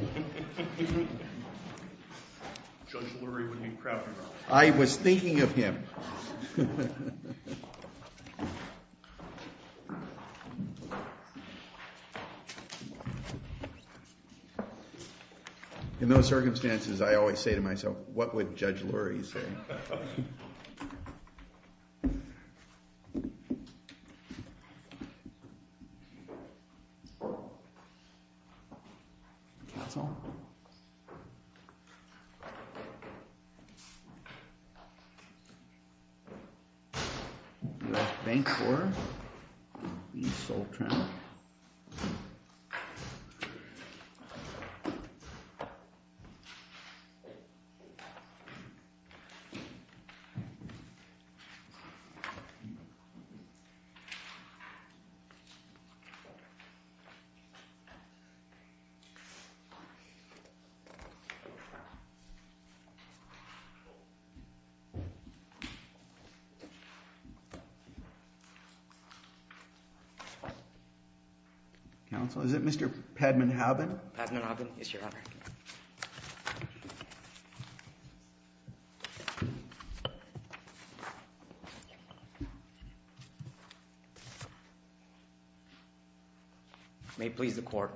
In those circumstances, I always say to myself, what would Judge Lurie say? Is it Mr. Pedman-Hobbin? Yes, Your Honor. May it please the Court.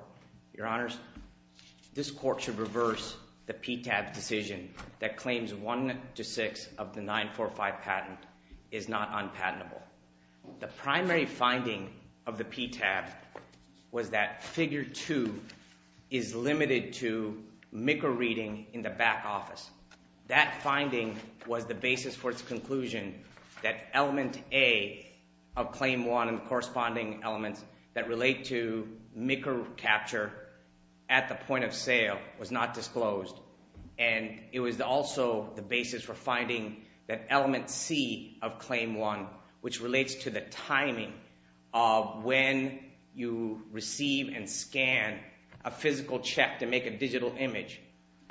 Your Honors, this Court should reverse the PTAB decision that claims 1 to 6 of the 945 patent is not unpatentable. The primary finding of the PTAB was that figure 2 is limited to MICR reading in the back office. That finding was the basis for its conclusion that element A of claim 1 and corresponding elements that relate to MICR capture at the point of sale was not disclosed. And it was also the basis for finding that element C of claim 1, which relates to the timing of when you receive and scan a physical check to make a digital image,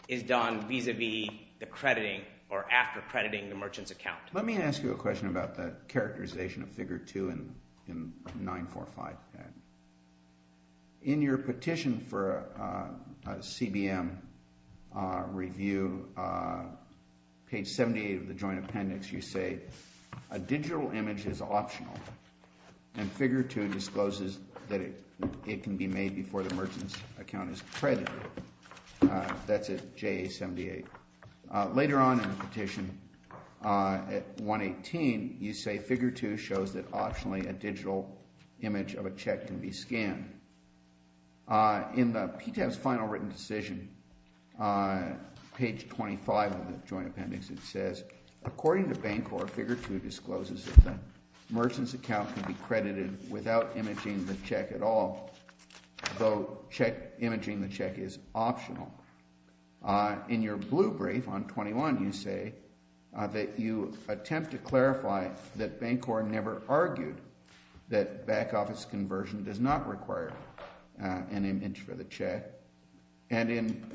is done vis-a-vis the crediting or after crediting the merchant's account. Let me ask you a question about the characterization of figure 2 in 945. In your petition for a CBM review, page 78 of the joint appendix, you say a digital image is optional and figure 2 discloses that it can be made before the merchant's account is credited. That's at JA 78. Later on in the petition, at 118, you say figure 2 shows that optionally a digital image of a check can be scanned. In the PTAB's final written decision, page 25 of the joint appendix, it says, according to Bancor, figure 2 discloses that the merchant's account can be credited without imaging the check at all, though imaging the check is optional. In your blue brief on 21, you say that you attempt to clarify that Bancor never argued that back-office conversion does not require an image for the check. And in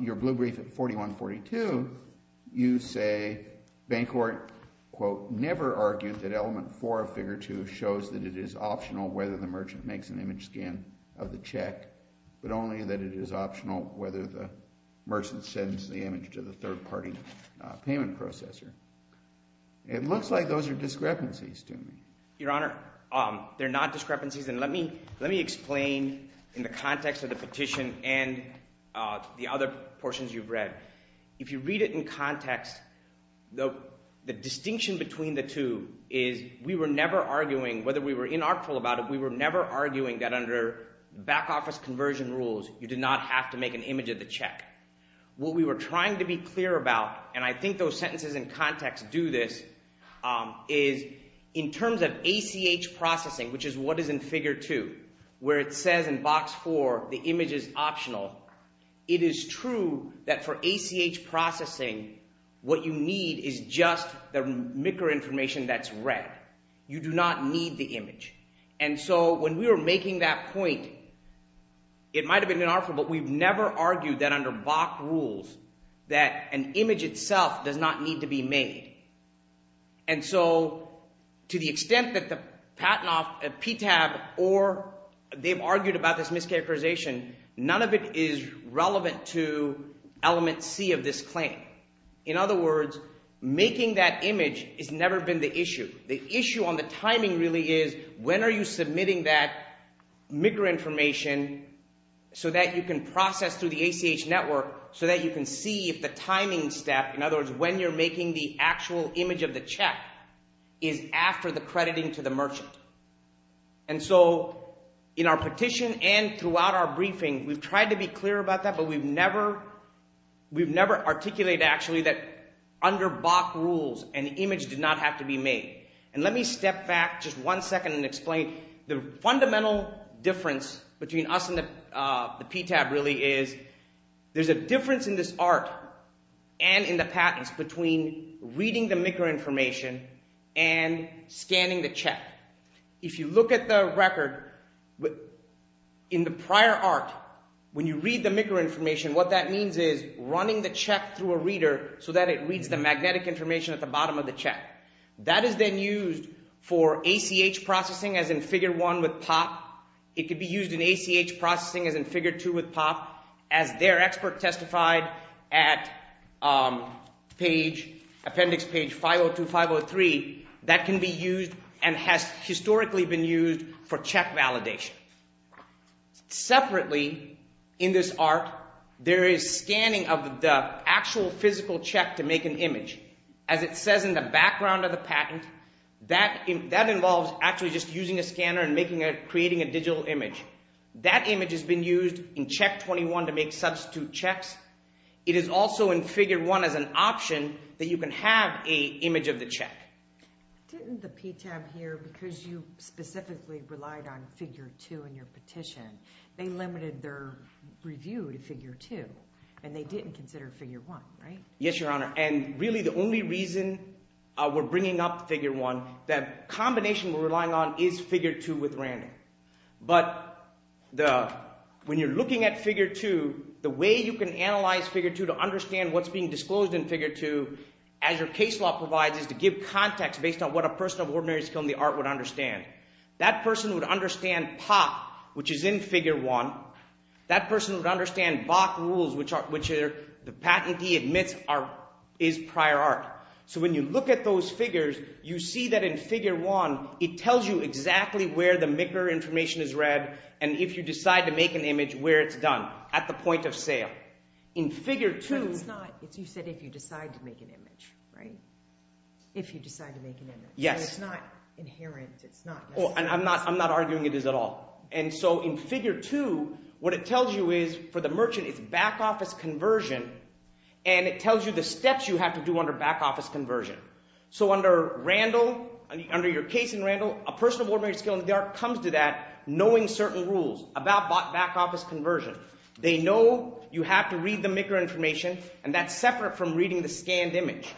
your blue brief at 4142, you say Bancor, quote, never argued that element 4 of figure 2 shows that it is optional whether the merchant makes an image scan of the check, but only that it is optional whether the merchant sends the image to the third-party payment processor. It looks like those are discrepancies to me. Your Honor, they're not discrepancies. And let me explain in the context of the petition and the other portions you've read. If you read it in context, the distinction between the two is we were never arguing, whether we were inartful about it, we were never arguing that under back-office conversion rules you did not have to make an image of the check. What we were trying to be clear about, and I think those sentences in context do this, is in terms of ACH processing, which is what is in figure 2, where it says in box 4 the image is optional, it is true that for ACH processing what you need is just the MICR information that's read. You do not need the image. And so when we were making that point, it might have been inartful, but we've never argued that under BOC rules that an image itself does not need to be made. And so to the extent that the PTAB or they've argued about this mischaracterization, none of it is relevant to element C of this claim. In other words, making that image has never been the issue. The issue on the timing really is when are you submitting that MICR information so that you can process through the ACH network so that you can see if the timing step, in other words, when you're making the actual image of the check, is after the crediting to the merchant. And so in our petition and throughout our briefing, we've tried to be clear about that, but we've never articulated actually that under BOC rules an image did not have to be made. And let me step back just one second and explain. The fundamental difference between us and the PTAB really is there's a difference in this art and in the patents between reading the MICR information and scanning the check. If you look at the record, in the prior art, when you read the MICR information, what that means is running the check through a reader so that it reads the magnetic information at the bottom of the check. That is then used for ACH processing as in Figure 1 with POP. It could be used in ACH processing as in Figure 2 with POP. As their expert testified at appendix page 502-503, that can be used and has historically been used for check validation. Separately in this art, there is scanning of the actual physical check to make an image. As it says in the background of the patent, that involves actually just using a scanner and creating a digital image. That image has been used in Check 21 to make substitute checks. It is also in Figure 1 as an option that you can have an image of the check. Didn't the PTAB here, because you specifically relied on Figure 2 in your petition, they limited their review to Figure 2 and they didn't consider Figure 1, right? Yes, Your Honor, and really the only reason we're bringing up Figure 1, that combination we're relying on is Figure 2 with random. But when you're looking at Figure 2, the way you can analyze Figure 2 to understand what's being disclosed in Figure 2, as your case law provides, is to give context based on what a person of ordinary skill in the art would understand. That person would understand POP, which is in Figure 1. That person would understand BOC rules, which the patentee admits is prior art. So when you look at those figures, you see that in Figure 1, it tells you exactly where the MICR information is read and if you decide to make an image, where it's done, at the point of sale. In Figure 2… But it's not, you said if you decide to make an image, right? If you decide to make an image. Yes. It's not inherent, it's not… I'm not arguing it is at all. And so in Figure 2, what it tells you is, for the merchant, it's back office conversion, and it tells you the steps you have to do under back office conversion. So under Randall, under your case in Randall, a person of ordinary skill in the art comes to that knowing certain rules about back office conversion. They know you have to read the MICR information, and that's separate from reading the scanned image.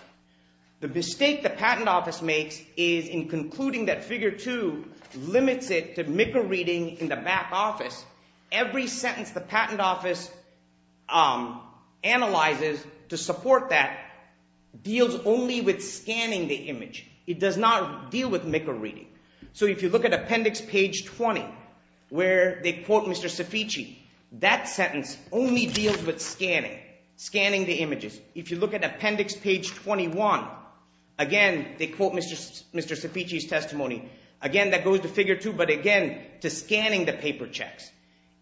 The mistake the patent office makes is in concluding that Figure 2 limits it to MICR reading in the back office. Every sentence the patent office analyzes to support that deals only with scanning the image. It does not deal with MICR reading. So if you look at appendix page 20, where they quote Mr. Ceficci, that sentence only deals with scanning, scanning the images. If you look at appendix page 21, again, they quote Mr. Ceficci's testimony. Again, that goes to Figure 2, but again, to scanning the paper checks.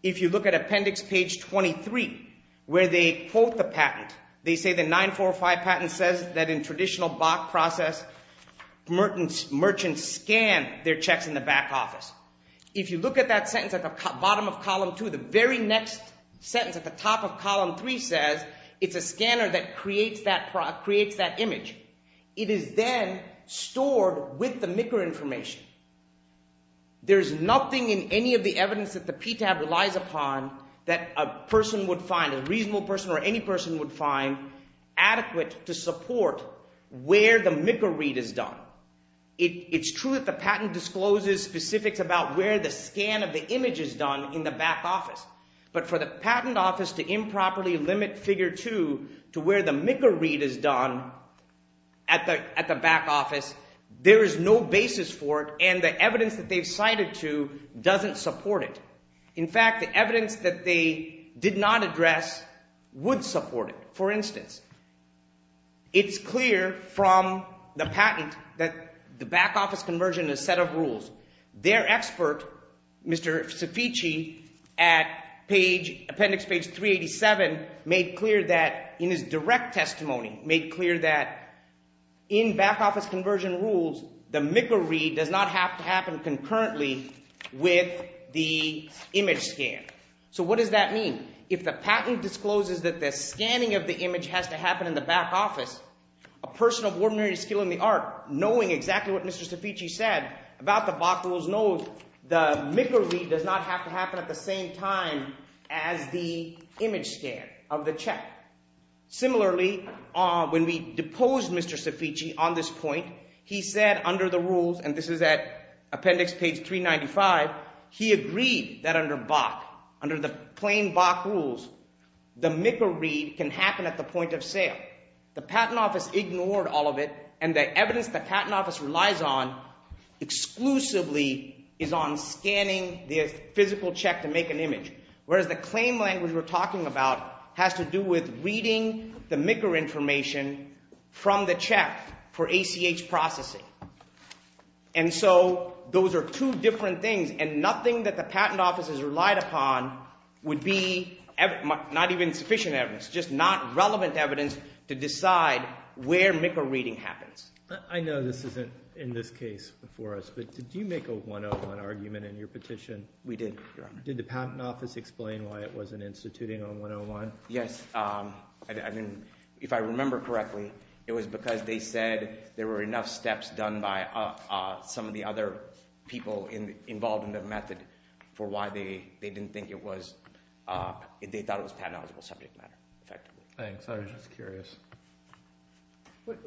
If you look at appendix page 23, where they quote the patent, they say the 9405 patent says that in traditional Bach process, merchants scan their checks in the back office. If you look at that sentence at the bottom of column 2, the very next sentence at the top of column 3 says it's a scanner that creates that image. It is then stored with the MICR information. There's nothing in any of the evidence that the PTAB relies upon that a person would find, a reasonable person or any person would find adequate to support where the MICR read is done. It's true that the patent discloses specifics about where the scan of the image is done in the back office. But for the patent office to improperly limit Figure 2 to where the MICR read is done at the back office, there is no basis for it, and the evidence that they've cited to doesn't support it. In fact, the evidence that they did not address would support it. For instance, it's clear from the patent that the back office conversion is a set of rules. Their expert, Mr. Sofici, at appendix page 387, made clear that in his direct testimony, made clear that in back office conversion rules, the MICR read does not have to happen concurrently with the image scan. So what does that mean? If the patent discloses that the scanning of the image has to happen in the back office, a person of ordinary skill in the art, knowing exactly what Mr. Sofici said about the box was known, the MICR read does not have to happen at the same time as the image scan of the check. Similarly, when we deposed Mr. Sofici on this point, he said under the rules, and this is at appendix page 395, he agreed that under BAC, under the plain BAC rules, the MICR read can happen at the point of sale. The patent office ignored all of it, and the evidence the patent office relies on exclusively is on scanning the physical check to make an image, whereas the claim language we're talking about has to do with reading the MICR information from the check for ACH processing. And so those are two different things, and nothing that the patent office has relied upon would be not even sufficient evidence, just not relevant evidence to decide where MICR reading happens. I know this isn't in this case before us, but did you make a 101 argument in your petition? We did, Your Honor. Did the patent office explain why it wasn't instituting on 101? Yes. If I remember correctly, it was because they said there were enough steps done by some of the other people involved in the method for why they didn't think it was, they thought it was patent-eligible subject matter, effectively. Thanks, I was just curious.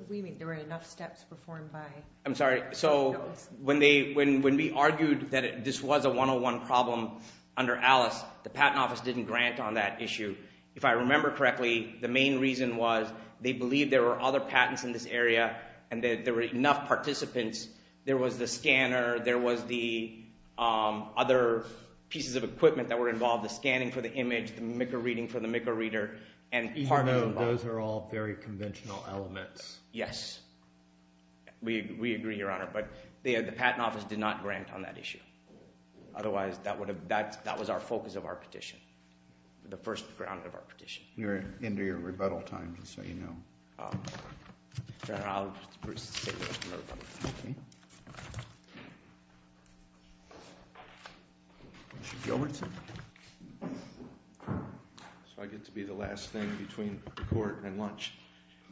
We mean there were enough steps performed by… I'm sorry, so when we argued that this was a 101 problem under Alice, the patent office didn't grant on that issue. If I remember correctly, the main reason was they believed there were other patents in this area and that there were enough participants. There was the scanner, there was the other pieces of equipment that were involved, the scanning for the image, the MICR reading for the MICR reader, and partners involved. Even though those are all very conventional elements. Yes. We agree, Your Honor, but the patent office did not grant on that issue. Otherwise, that was our focus of our petition, the first ground of our petition. You're into your rebuttal time, just so you know. Your Honor, I'll proceed with my rebuttal. Okay. Mr. Gilbertson. So I get to be the last thing between the court and lunch?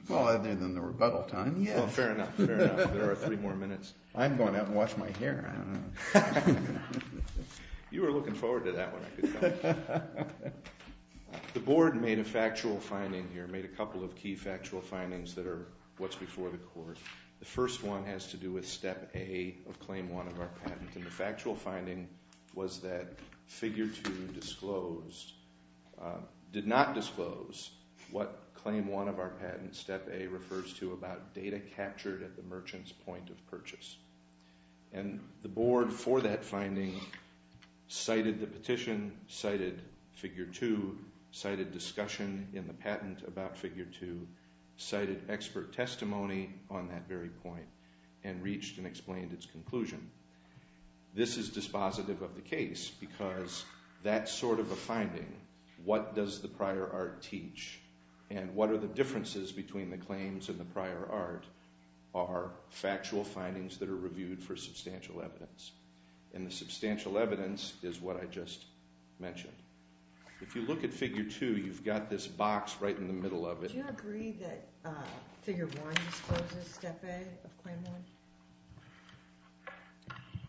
Well, other than the rebuttal time, yes. Fair enough, fair enough. There are three more minutes. I'm going out and wash my hair. You were looking forward to that one, I could tell. The board made a factual finding here, made a couple of key factual findings that are what's before the court. The first one has to do with Step A of Claim 1 of our patent. And the factual finding was that Figure 2 did not disclose what Claim 1 of our patent, Step A, refers to about data captured at the merchant's point of purchase. And the board, for that finding, cited the petition, cited Figure 2, cited discussion in the patent about Figure 2, cited expert testimony on that very point, and reached and explained its conclusion. This is dispositive of the case, because that sort of a finding, what does the prior art teach? And what are the differences between the claims and the prior art are factual findings that are reviewed for substantial evidence. And the substantial evidence is what I just mentioned. If you look at Figure 2, you've got this box right in the middle of it. Do you agree that Figure 1 discloses Step A of Claim 1?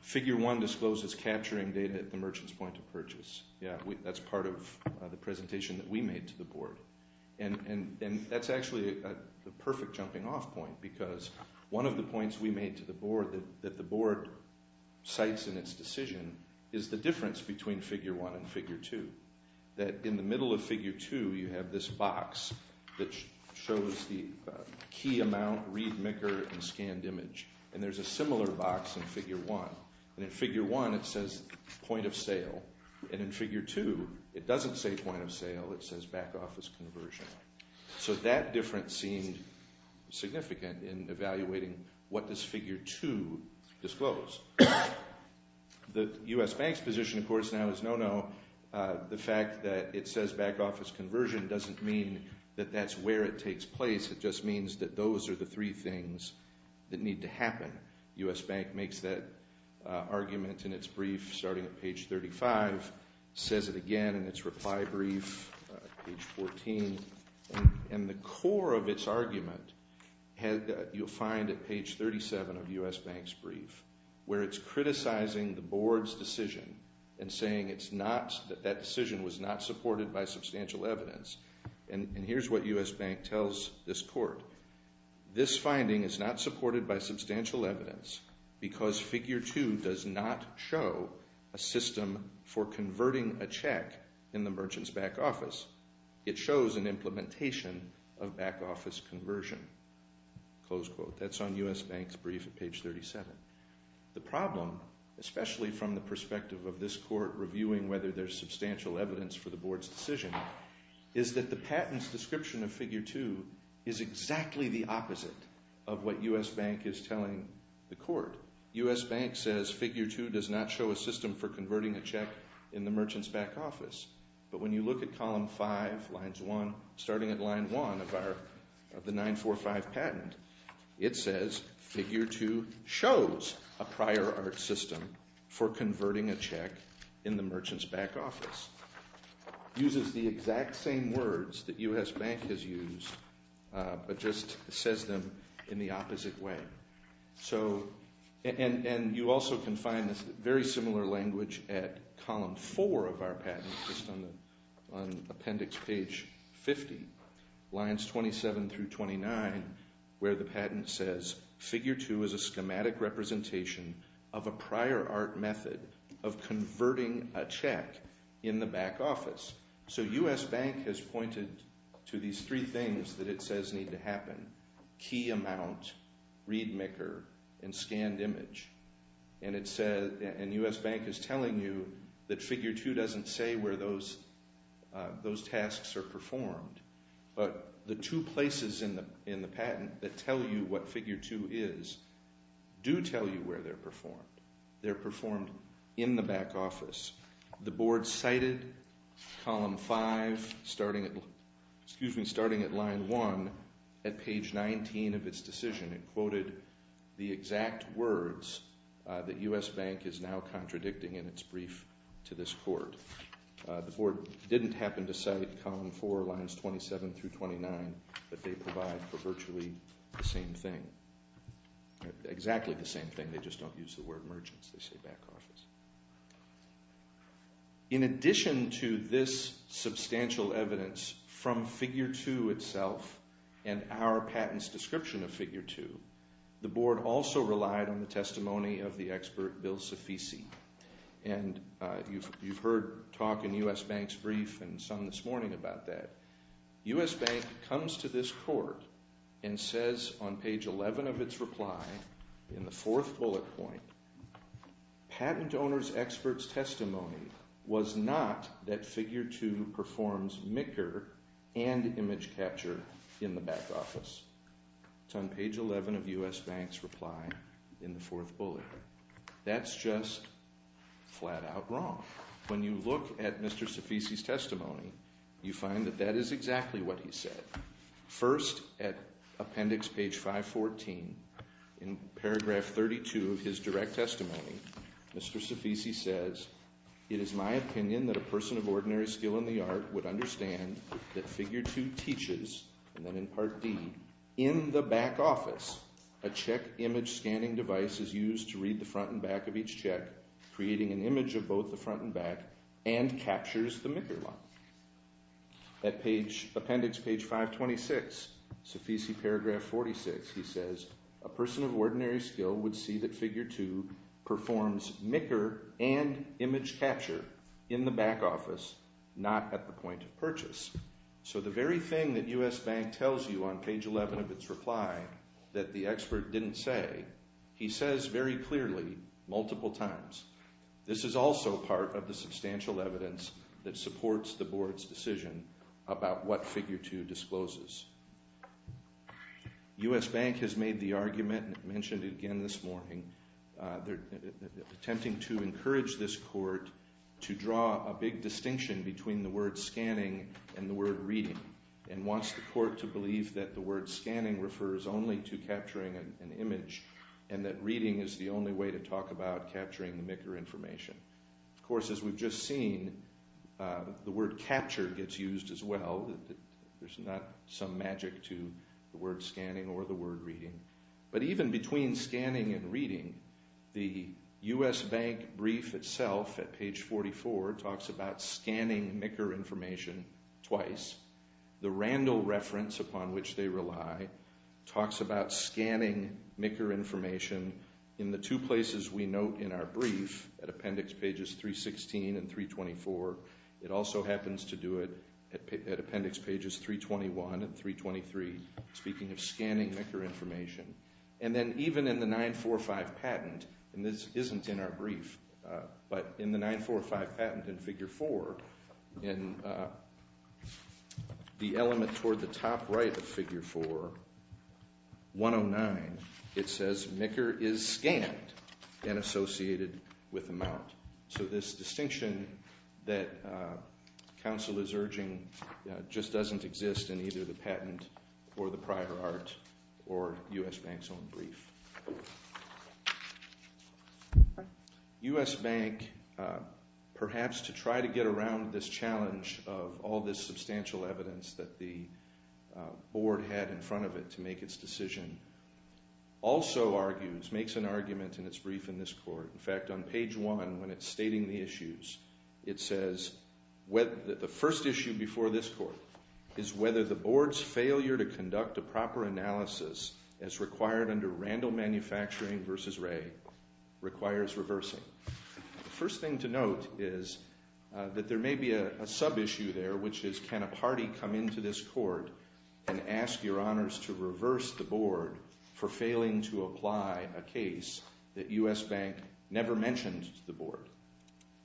Figure 1 discloses capturing data at the merchant's point of purchase. Yeah, that's part of the presentation that we made to the board. And that's actually the perfect jumping off point, because one of the points we made to the board, that the board cites in its decision, is the difference between Figure 1 and Figure 2. That in the middle of Figure 2, you have this box that shows the key amount, read micker, and scanned image. And there's a similar box in Figure 1. And in Figure 1, it says point of sale. And in Figure 2, it doesn't say point of sale. It says back office conversion. So that difference seemed significant in evaluating what does Figure 2 disclose. The U.S. Bank's position, of course, now is no, no. The fact that it says back office conversion doesn't mean that that's where it takes place. Again, U.S. Bank makes that argument in its brief, starting at page 35. Says it again in its reply brief, page 14. And the core of its argument, you'll find at page 37 of U.S. Bank's brief, where it's criticizing the board's decision and saying it's not, that that decision was not supported by substantial evidence. And here's what U.S. Bank tells this court. This finding is not supported by substantial evidence because Figure 2 does not show a system for converting a check in the merchant's back office. It shows an implementation of back office conversion. That's on U.S. Bank's brief at page 37. The problem, especially from the perspective of this court reviewing whether there's substantial evidence for the board's decision, is that the patent's description of Figure 2 is exactly the opposite of what U.S. Bank is telling the court. U.S. Bank says Figure 2 does not show a system for converting a check in the merchant's back office. But when you look at column 5, lines 1, starting at line 1 of our, of the 945 patent, it says Figure 2 shows a prior art system for converting a check in the merchant's back office. It uses the exact same words that U.S. Bank has used, but just says them in the opposite way. So, and you also can find this very similar language at column 4 of our patent, just on appendix page 50, lines 27 through 29, where the patent says, Figure 2 is a schematic representation of a prior art method of converting a check in the back office. So U.S. Bank has pointed to these three things that it says need to happen, key amount, readmaker, and scanned image. And it says, and U.S. Bank is telling you that Figure 2 doesn't say where those tasks are performed. But the two places in the patent that tell you what Figure 2 is do tell you where they're performed. They're performed in the back office. The board cited column 5 starting at, excuse me, starting at line 1 at page 19 of its decision. It quoted the exact words that U.S. Bank is now contradicting in its brief to this court. The board didn't happen to cite column 4, lines 27 through 29, that they provide for virtually the same thing. Exactly the same thing, they just don't use the word merchants, they say back office. In addition to this substantial evidence from Figure 2 itself and our patent's description of Figure 2, the board also relied on the testimony of the expert Bill Sifisi. And you've heard talk in U.S. Bank's brief and some this morning about that. U.S. Bank comes to this court and says on page 11 of its reply, in the fourth bullet point, patent owner's expert's testimony was not that Figure 2 performs MICR and image capture in the back office. It's on page 11 of U.S. Bank's reply in the fourth bullet. That's just flat out wrong. When you look at Mr. Sifisi's testimony, you find that that is exactly what he said. First, at appendix page 514, in paragraph 32 of his direct testimony, Mr. Sifisi says, it is my opinion that a person of ordinary skill in the art would In the back office, a check image scanning device is used to read the front and back of each check, creating an image of both the front and back, and captures the MICR law. At appendix page 526, Sifisi paragraph 46, he says, a person of ordinary skill would see that Figure 2 performs MICR and image capture in the back office, not at the point of purchase. So the very thing that U.S. Bank tells you on page 11 of its reply that the expert didn't say, he says very clearly, multiple times. This is also part of the substantial evidence that supports the board's decision about what Figure 2 discloses. U.S. Bank has made the argument, mentioned it again this morning, attempting to encourage this court to draw a big distinction between the word scanning and the word reading, and wants the court to believe that the word scanning refers only to capturing an image, and that reading is the only way to talk about capturing the MICR information. Of course, as we've just seen, the word capture gets used as well. There's not some magic to the word scanning or the word reading. But even between scanning and reading, the U.S. Bank brief itself, at page 44, talks about scanning MICR information twice. The Randall reference upon which they rely talks about scanning MICR information in the two places we note in our brief, at appendix pages 316 and 324. It also happens to do it at appendix pages 321 and 323, speaking of scanning MICR information. And then even in the 945 patent, and this isn't in our brief, but in the 945 patent in Figure 4, in the element toward the top right of Figure 4, 109, it says, MICR is scanned and associated with amount. So this distinction that counsel is urging just doesn't exist in either the patent or the prior art or U.S. Bank's own brief. U.S. Bank, perhaps to try to get around this challenge of all this substantial evidence that the board had in front of it to make its decision, also argues, makes an argument in its brief in this court. In fact, on page 1, when it's stating the issues, it says, the first issue before this court is whether the board's failure to conduct a proper analysis as required under Randall Manufacturing v. Ray requires reversing. The first thing to note is that there may be a sub-issue there, which is can a party come into this court and ask your honors to reverse the board for failing to apply a case that U.S. Bank never mentioned to the board?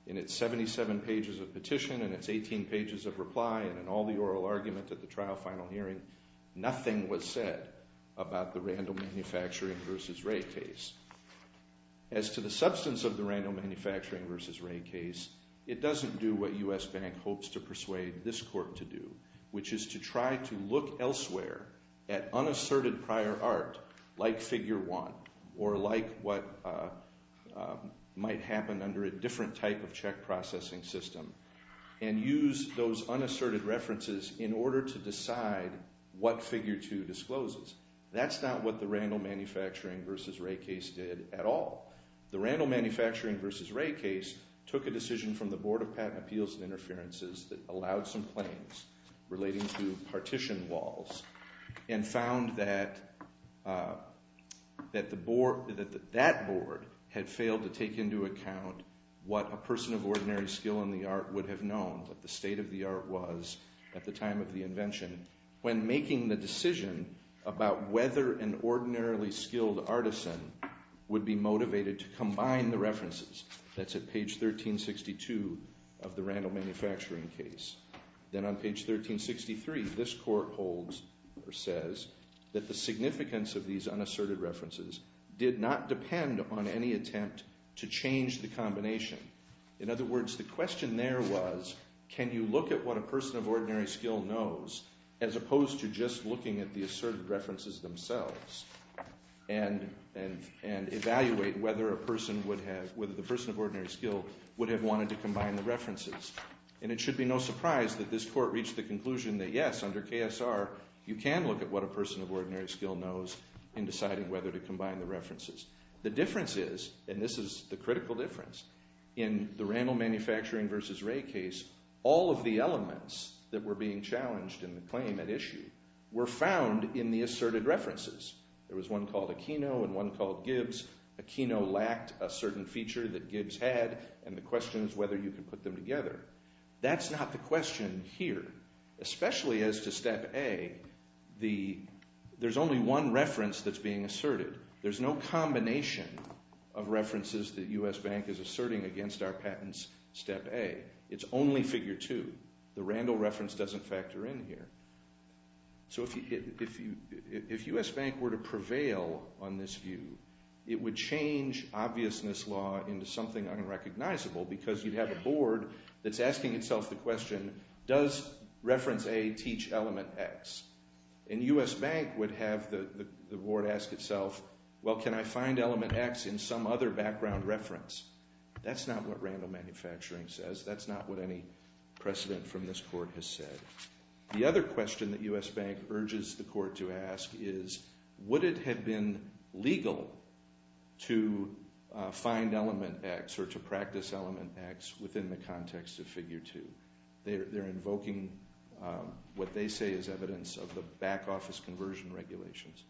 In its 77 pages of petition and its 18 pages of reply and in all the oral argument at the trial final hearing, nothing was said about the Randall Manufacturing v. Ray case. As to the substance of the Randall Manufacturing v. Ray case, it doesn't do what U.S. Bank hopes to persuade this court to do, which is to try to look elsewhere at unasserted prior art like figure 1 or like what might happen under a different type of check processing system and use those unasserted references in order to decide what figure 2 discloses. That's not what the Randall Manufacturing v. Ray case did at all. The Randall Manufacturing v. Ray case took a decision from the Board of Patent Appeals and Interferences that allowed some claims relating to partition walls and found that that board had failed to take into account what a person of ordinary skill in the art would have known, what the state of the art was at the time of the invention, when making the decision about whether an ordinarily skilled artisan would be motivated to combine the references. That's at page 1362 of the Randall Manufacturing case. Then on page 1363, this court holds or says that the significance of these unasserted references did not depend upon any attempt to change the combination. In other words, the question there was can you look at what a person of ordinary skill knows as opposed to just looking at the asserted references themselves and evaluate whether the person of ordinary skill would have wanted to combine the references. It should be no surprise that this court reached the conclusion that yes, under KSR, you can look at what a person of ordinary skill knows in deciding whether to combine the references. The difference is, and this is the critical difference, in the Randall Manufacturing v. Ray case, all of the elements that were being challenged in the claim at issue were found in the asserted references. There was one called Aquino and one called Gibbs. Aquino lacked a certain feature that Gibbs had, and the question is whether you can put them together. That's not the question here, especially as to Step A. There's only one reference that's being asserted. There's no combination of references that U.S. Bank is asserting against our patents, Step A. It's only Figure 2. The Randall reference doesn't factor in here. So if U.S. Bank were to prevail on this view, it would change obviousness law into something unrecognizable because you'd have a board that's asking itself the question, does reference A teach element X? And U.S. Bank would have the board ask itself, well, can I find element X in some other background reference? That's not what Randall Manufacturing says. That's not what any precedent from this court has said. The other question that U.S. Bank urges the court to ask is, would it have been legal to find element X or to practice element X within the context of Figure 2? They're invoking what they say is evidence of the back office conversion regulations.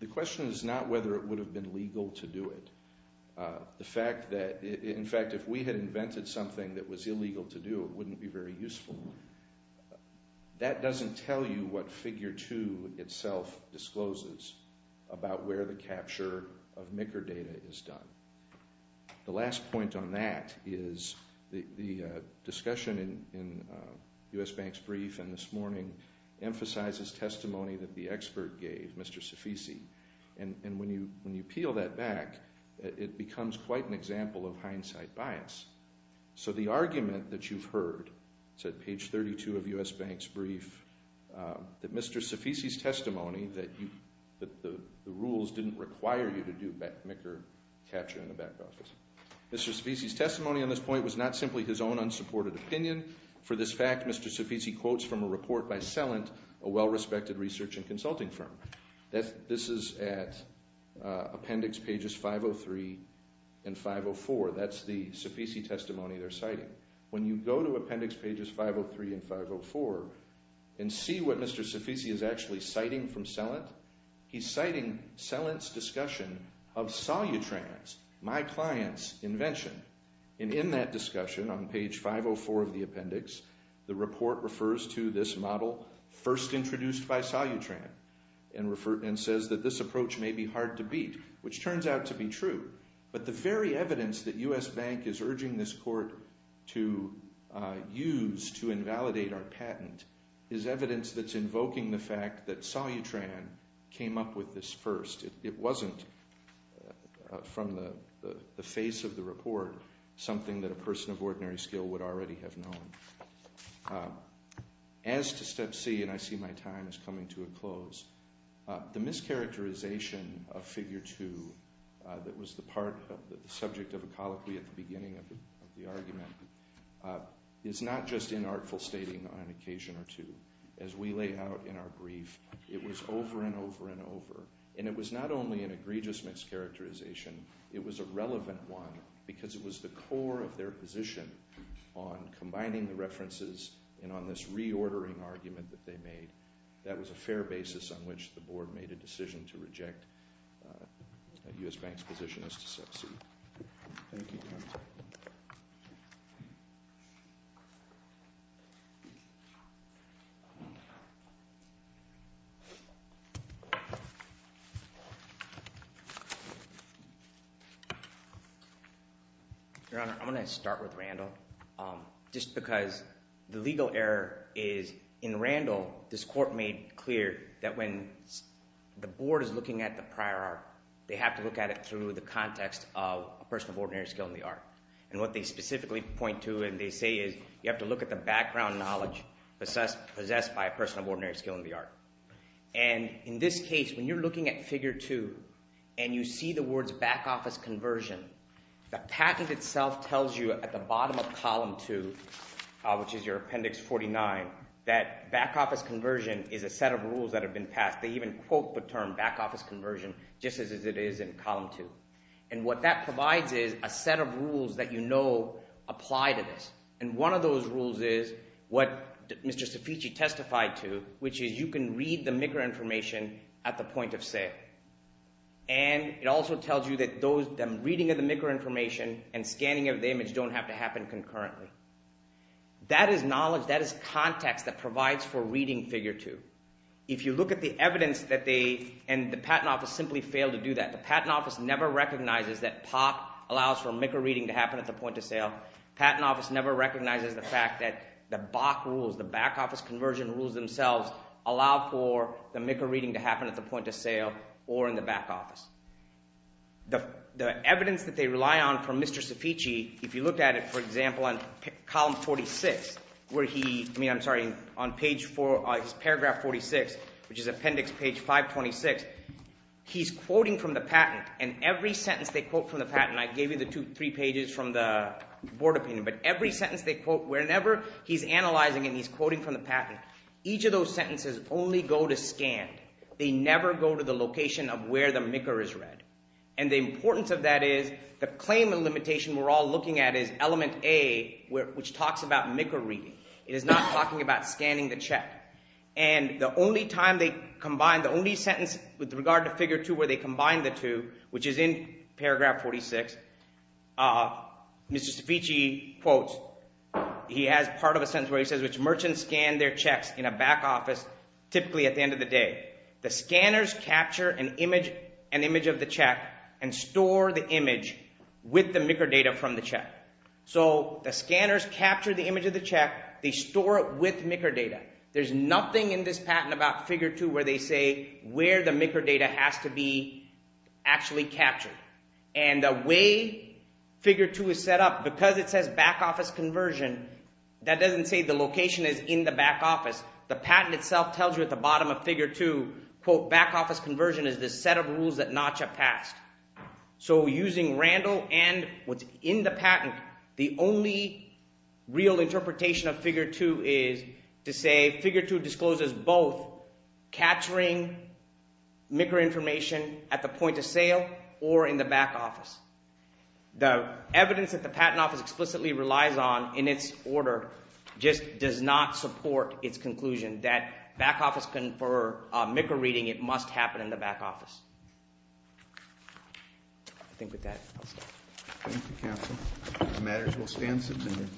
The question is not whether it would have been legal to do it. In fact, if we had invented something that was illegal to do, it wouldn't be very useful. That doesn't tell you what Figure 2 itself discloses about where the capture of MICR data is done. The last point on that is the discussion in U.S. Bank's brief and this morning emphasizes testimony that the expert gave, Mr. Sofisi. And when you peel that back, it becomes quite an example of hindsight bias. So the argument that you've heard, it's at page 32 of U.S. Bank's brief, that Mr. Sofisi's testimony that the rules didn't require you to do MICR capture in the back office. Mr. Sofisi's testimony on this point was not simply his own unsupported opinion. For this fact, Mr. Sofisi quotes from a report by Celent, a well-respected research and consulting firm. This is at appendix pages 503 and 504. That's the Sofisi testimony they're citing. When you go to appendix pages 503 and 504 and see what Mr. Sofisi is actually citing from Celent, he's citing Celent's discussion of Solutrans, my client's invention. And in that discussion, on page 504 of the appendix, the report refers to this model first introduced by Solutran and says that this approach may be hard to beat, which turns out to be true. But the very evidence that U.S. Bank is urging this court to use to invalidate our patent is evidence that's invoking the fact that Solutran came up with this first. It wasn't, from the face of the report, something that a person of ordinary skill would already have known. As to step C, and I see my time is coming to a close, the mischaracterization of figure two that was the subject of a colloquy at the beginning of the argument is not just inartful stating on occasion or two. As we lay out in our brief, it was over and over and over. And it was not only an egregious mischaracterization. It was a relevant one because it was the core of their position on combining the references and on this reordering argument that they made. That was a fair basis on which the board made a decision to reject U.S. Bank's position as to step C. Thank you. Your Honor, I'm going to start with Randall. Just because the legal error is in Randall, this court made clear that when the board is looking at the prior art, they have to look at it through the context of a person of ordinary skill in the art. And what they specifically point to and they say is you have to look at the background knowledge possessed by a person of ordinary skill in the art. And in this case, when you're looking at figure two and you see the words back office conversion, the patent itself tells you at the bottom of column two, which is your appendix 49, that back office conversion is a set of rules that have been passed. In fact, they even quote the term back office conversion just as it is in column two. And what that provides is a set of rules that you know apply to this. And one of those rules is what Mr. Sofici testified to, which is you can read the MIQRA information at the point of sale. And it also tells you that the reading of the MIQRA information and scanning of the image don't have to happen concurrently. That is knowledge, that is context that provides for reading figure two. If you look at the evidence that they and the patent office simply fail to do that, the patent office never recognizes that POC allows for MIQRA reading to happen at the point of sale. The patent office never recognizes the fact that the BOC rules, the back office conversion rules themselves, allow for the MIQRA reading to happen at the point of sale or in the back office. The evidence that they rely on from Mr. Sofici, if you look at it, for example, on column 46, I'm sorry, on paragraph 46, which is appendix page 526, he's quoting from the patent. And every sentence they quote from the patent, I gave you the three pages from the board opinion, but every sentence they quote, whenever he's analyzing and he's quoting from the patent, each of those sentences only go to scan. They never go to the location of where the MIQRA is read. And the importance of that is the claim and limitation we're all looking at is element A, which talks about MIQRA reading. It is not talking about scanning the check. And the only time they combine, the only sentence with regard to figure two where they combine the two, which is in paragraph 46, Mr. Sofici quotes, he has part of a sentence where he says, which merchants scan their checks in a back office typically at the end of the day. The scanners capture an image of the check and store the image with the MIQRA data from the check. So the scanners capture the image of the check. They store it with MIQRA data. There's nothing in this patent about figure two where they say where the MIQRA data has to be actually captured. And the way figure two is set up, because it says back office conversion, that doesn't say the location is in the back office. The patent itself tells you at the bottom of figure two, quote, back office conversion is the set of rules that NACHA passed. So using Randall and what's in the patent, the only real interpretation of figure two is to say figure two discloses both capturing MIQRA information at the point of sale or in the back office. The evidence that the patent office explicitly relies on in its order just does not support its conclusion that back office and for MIQRA reading it must happen in the back office. I think with that, I'll stop. Thank you, counsel. If there's matters, we'll stand some time.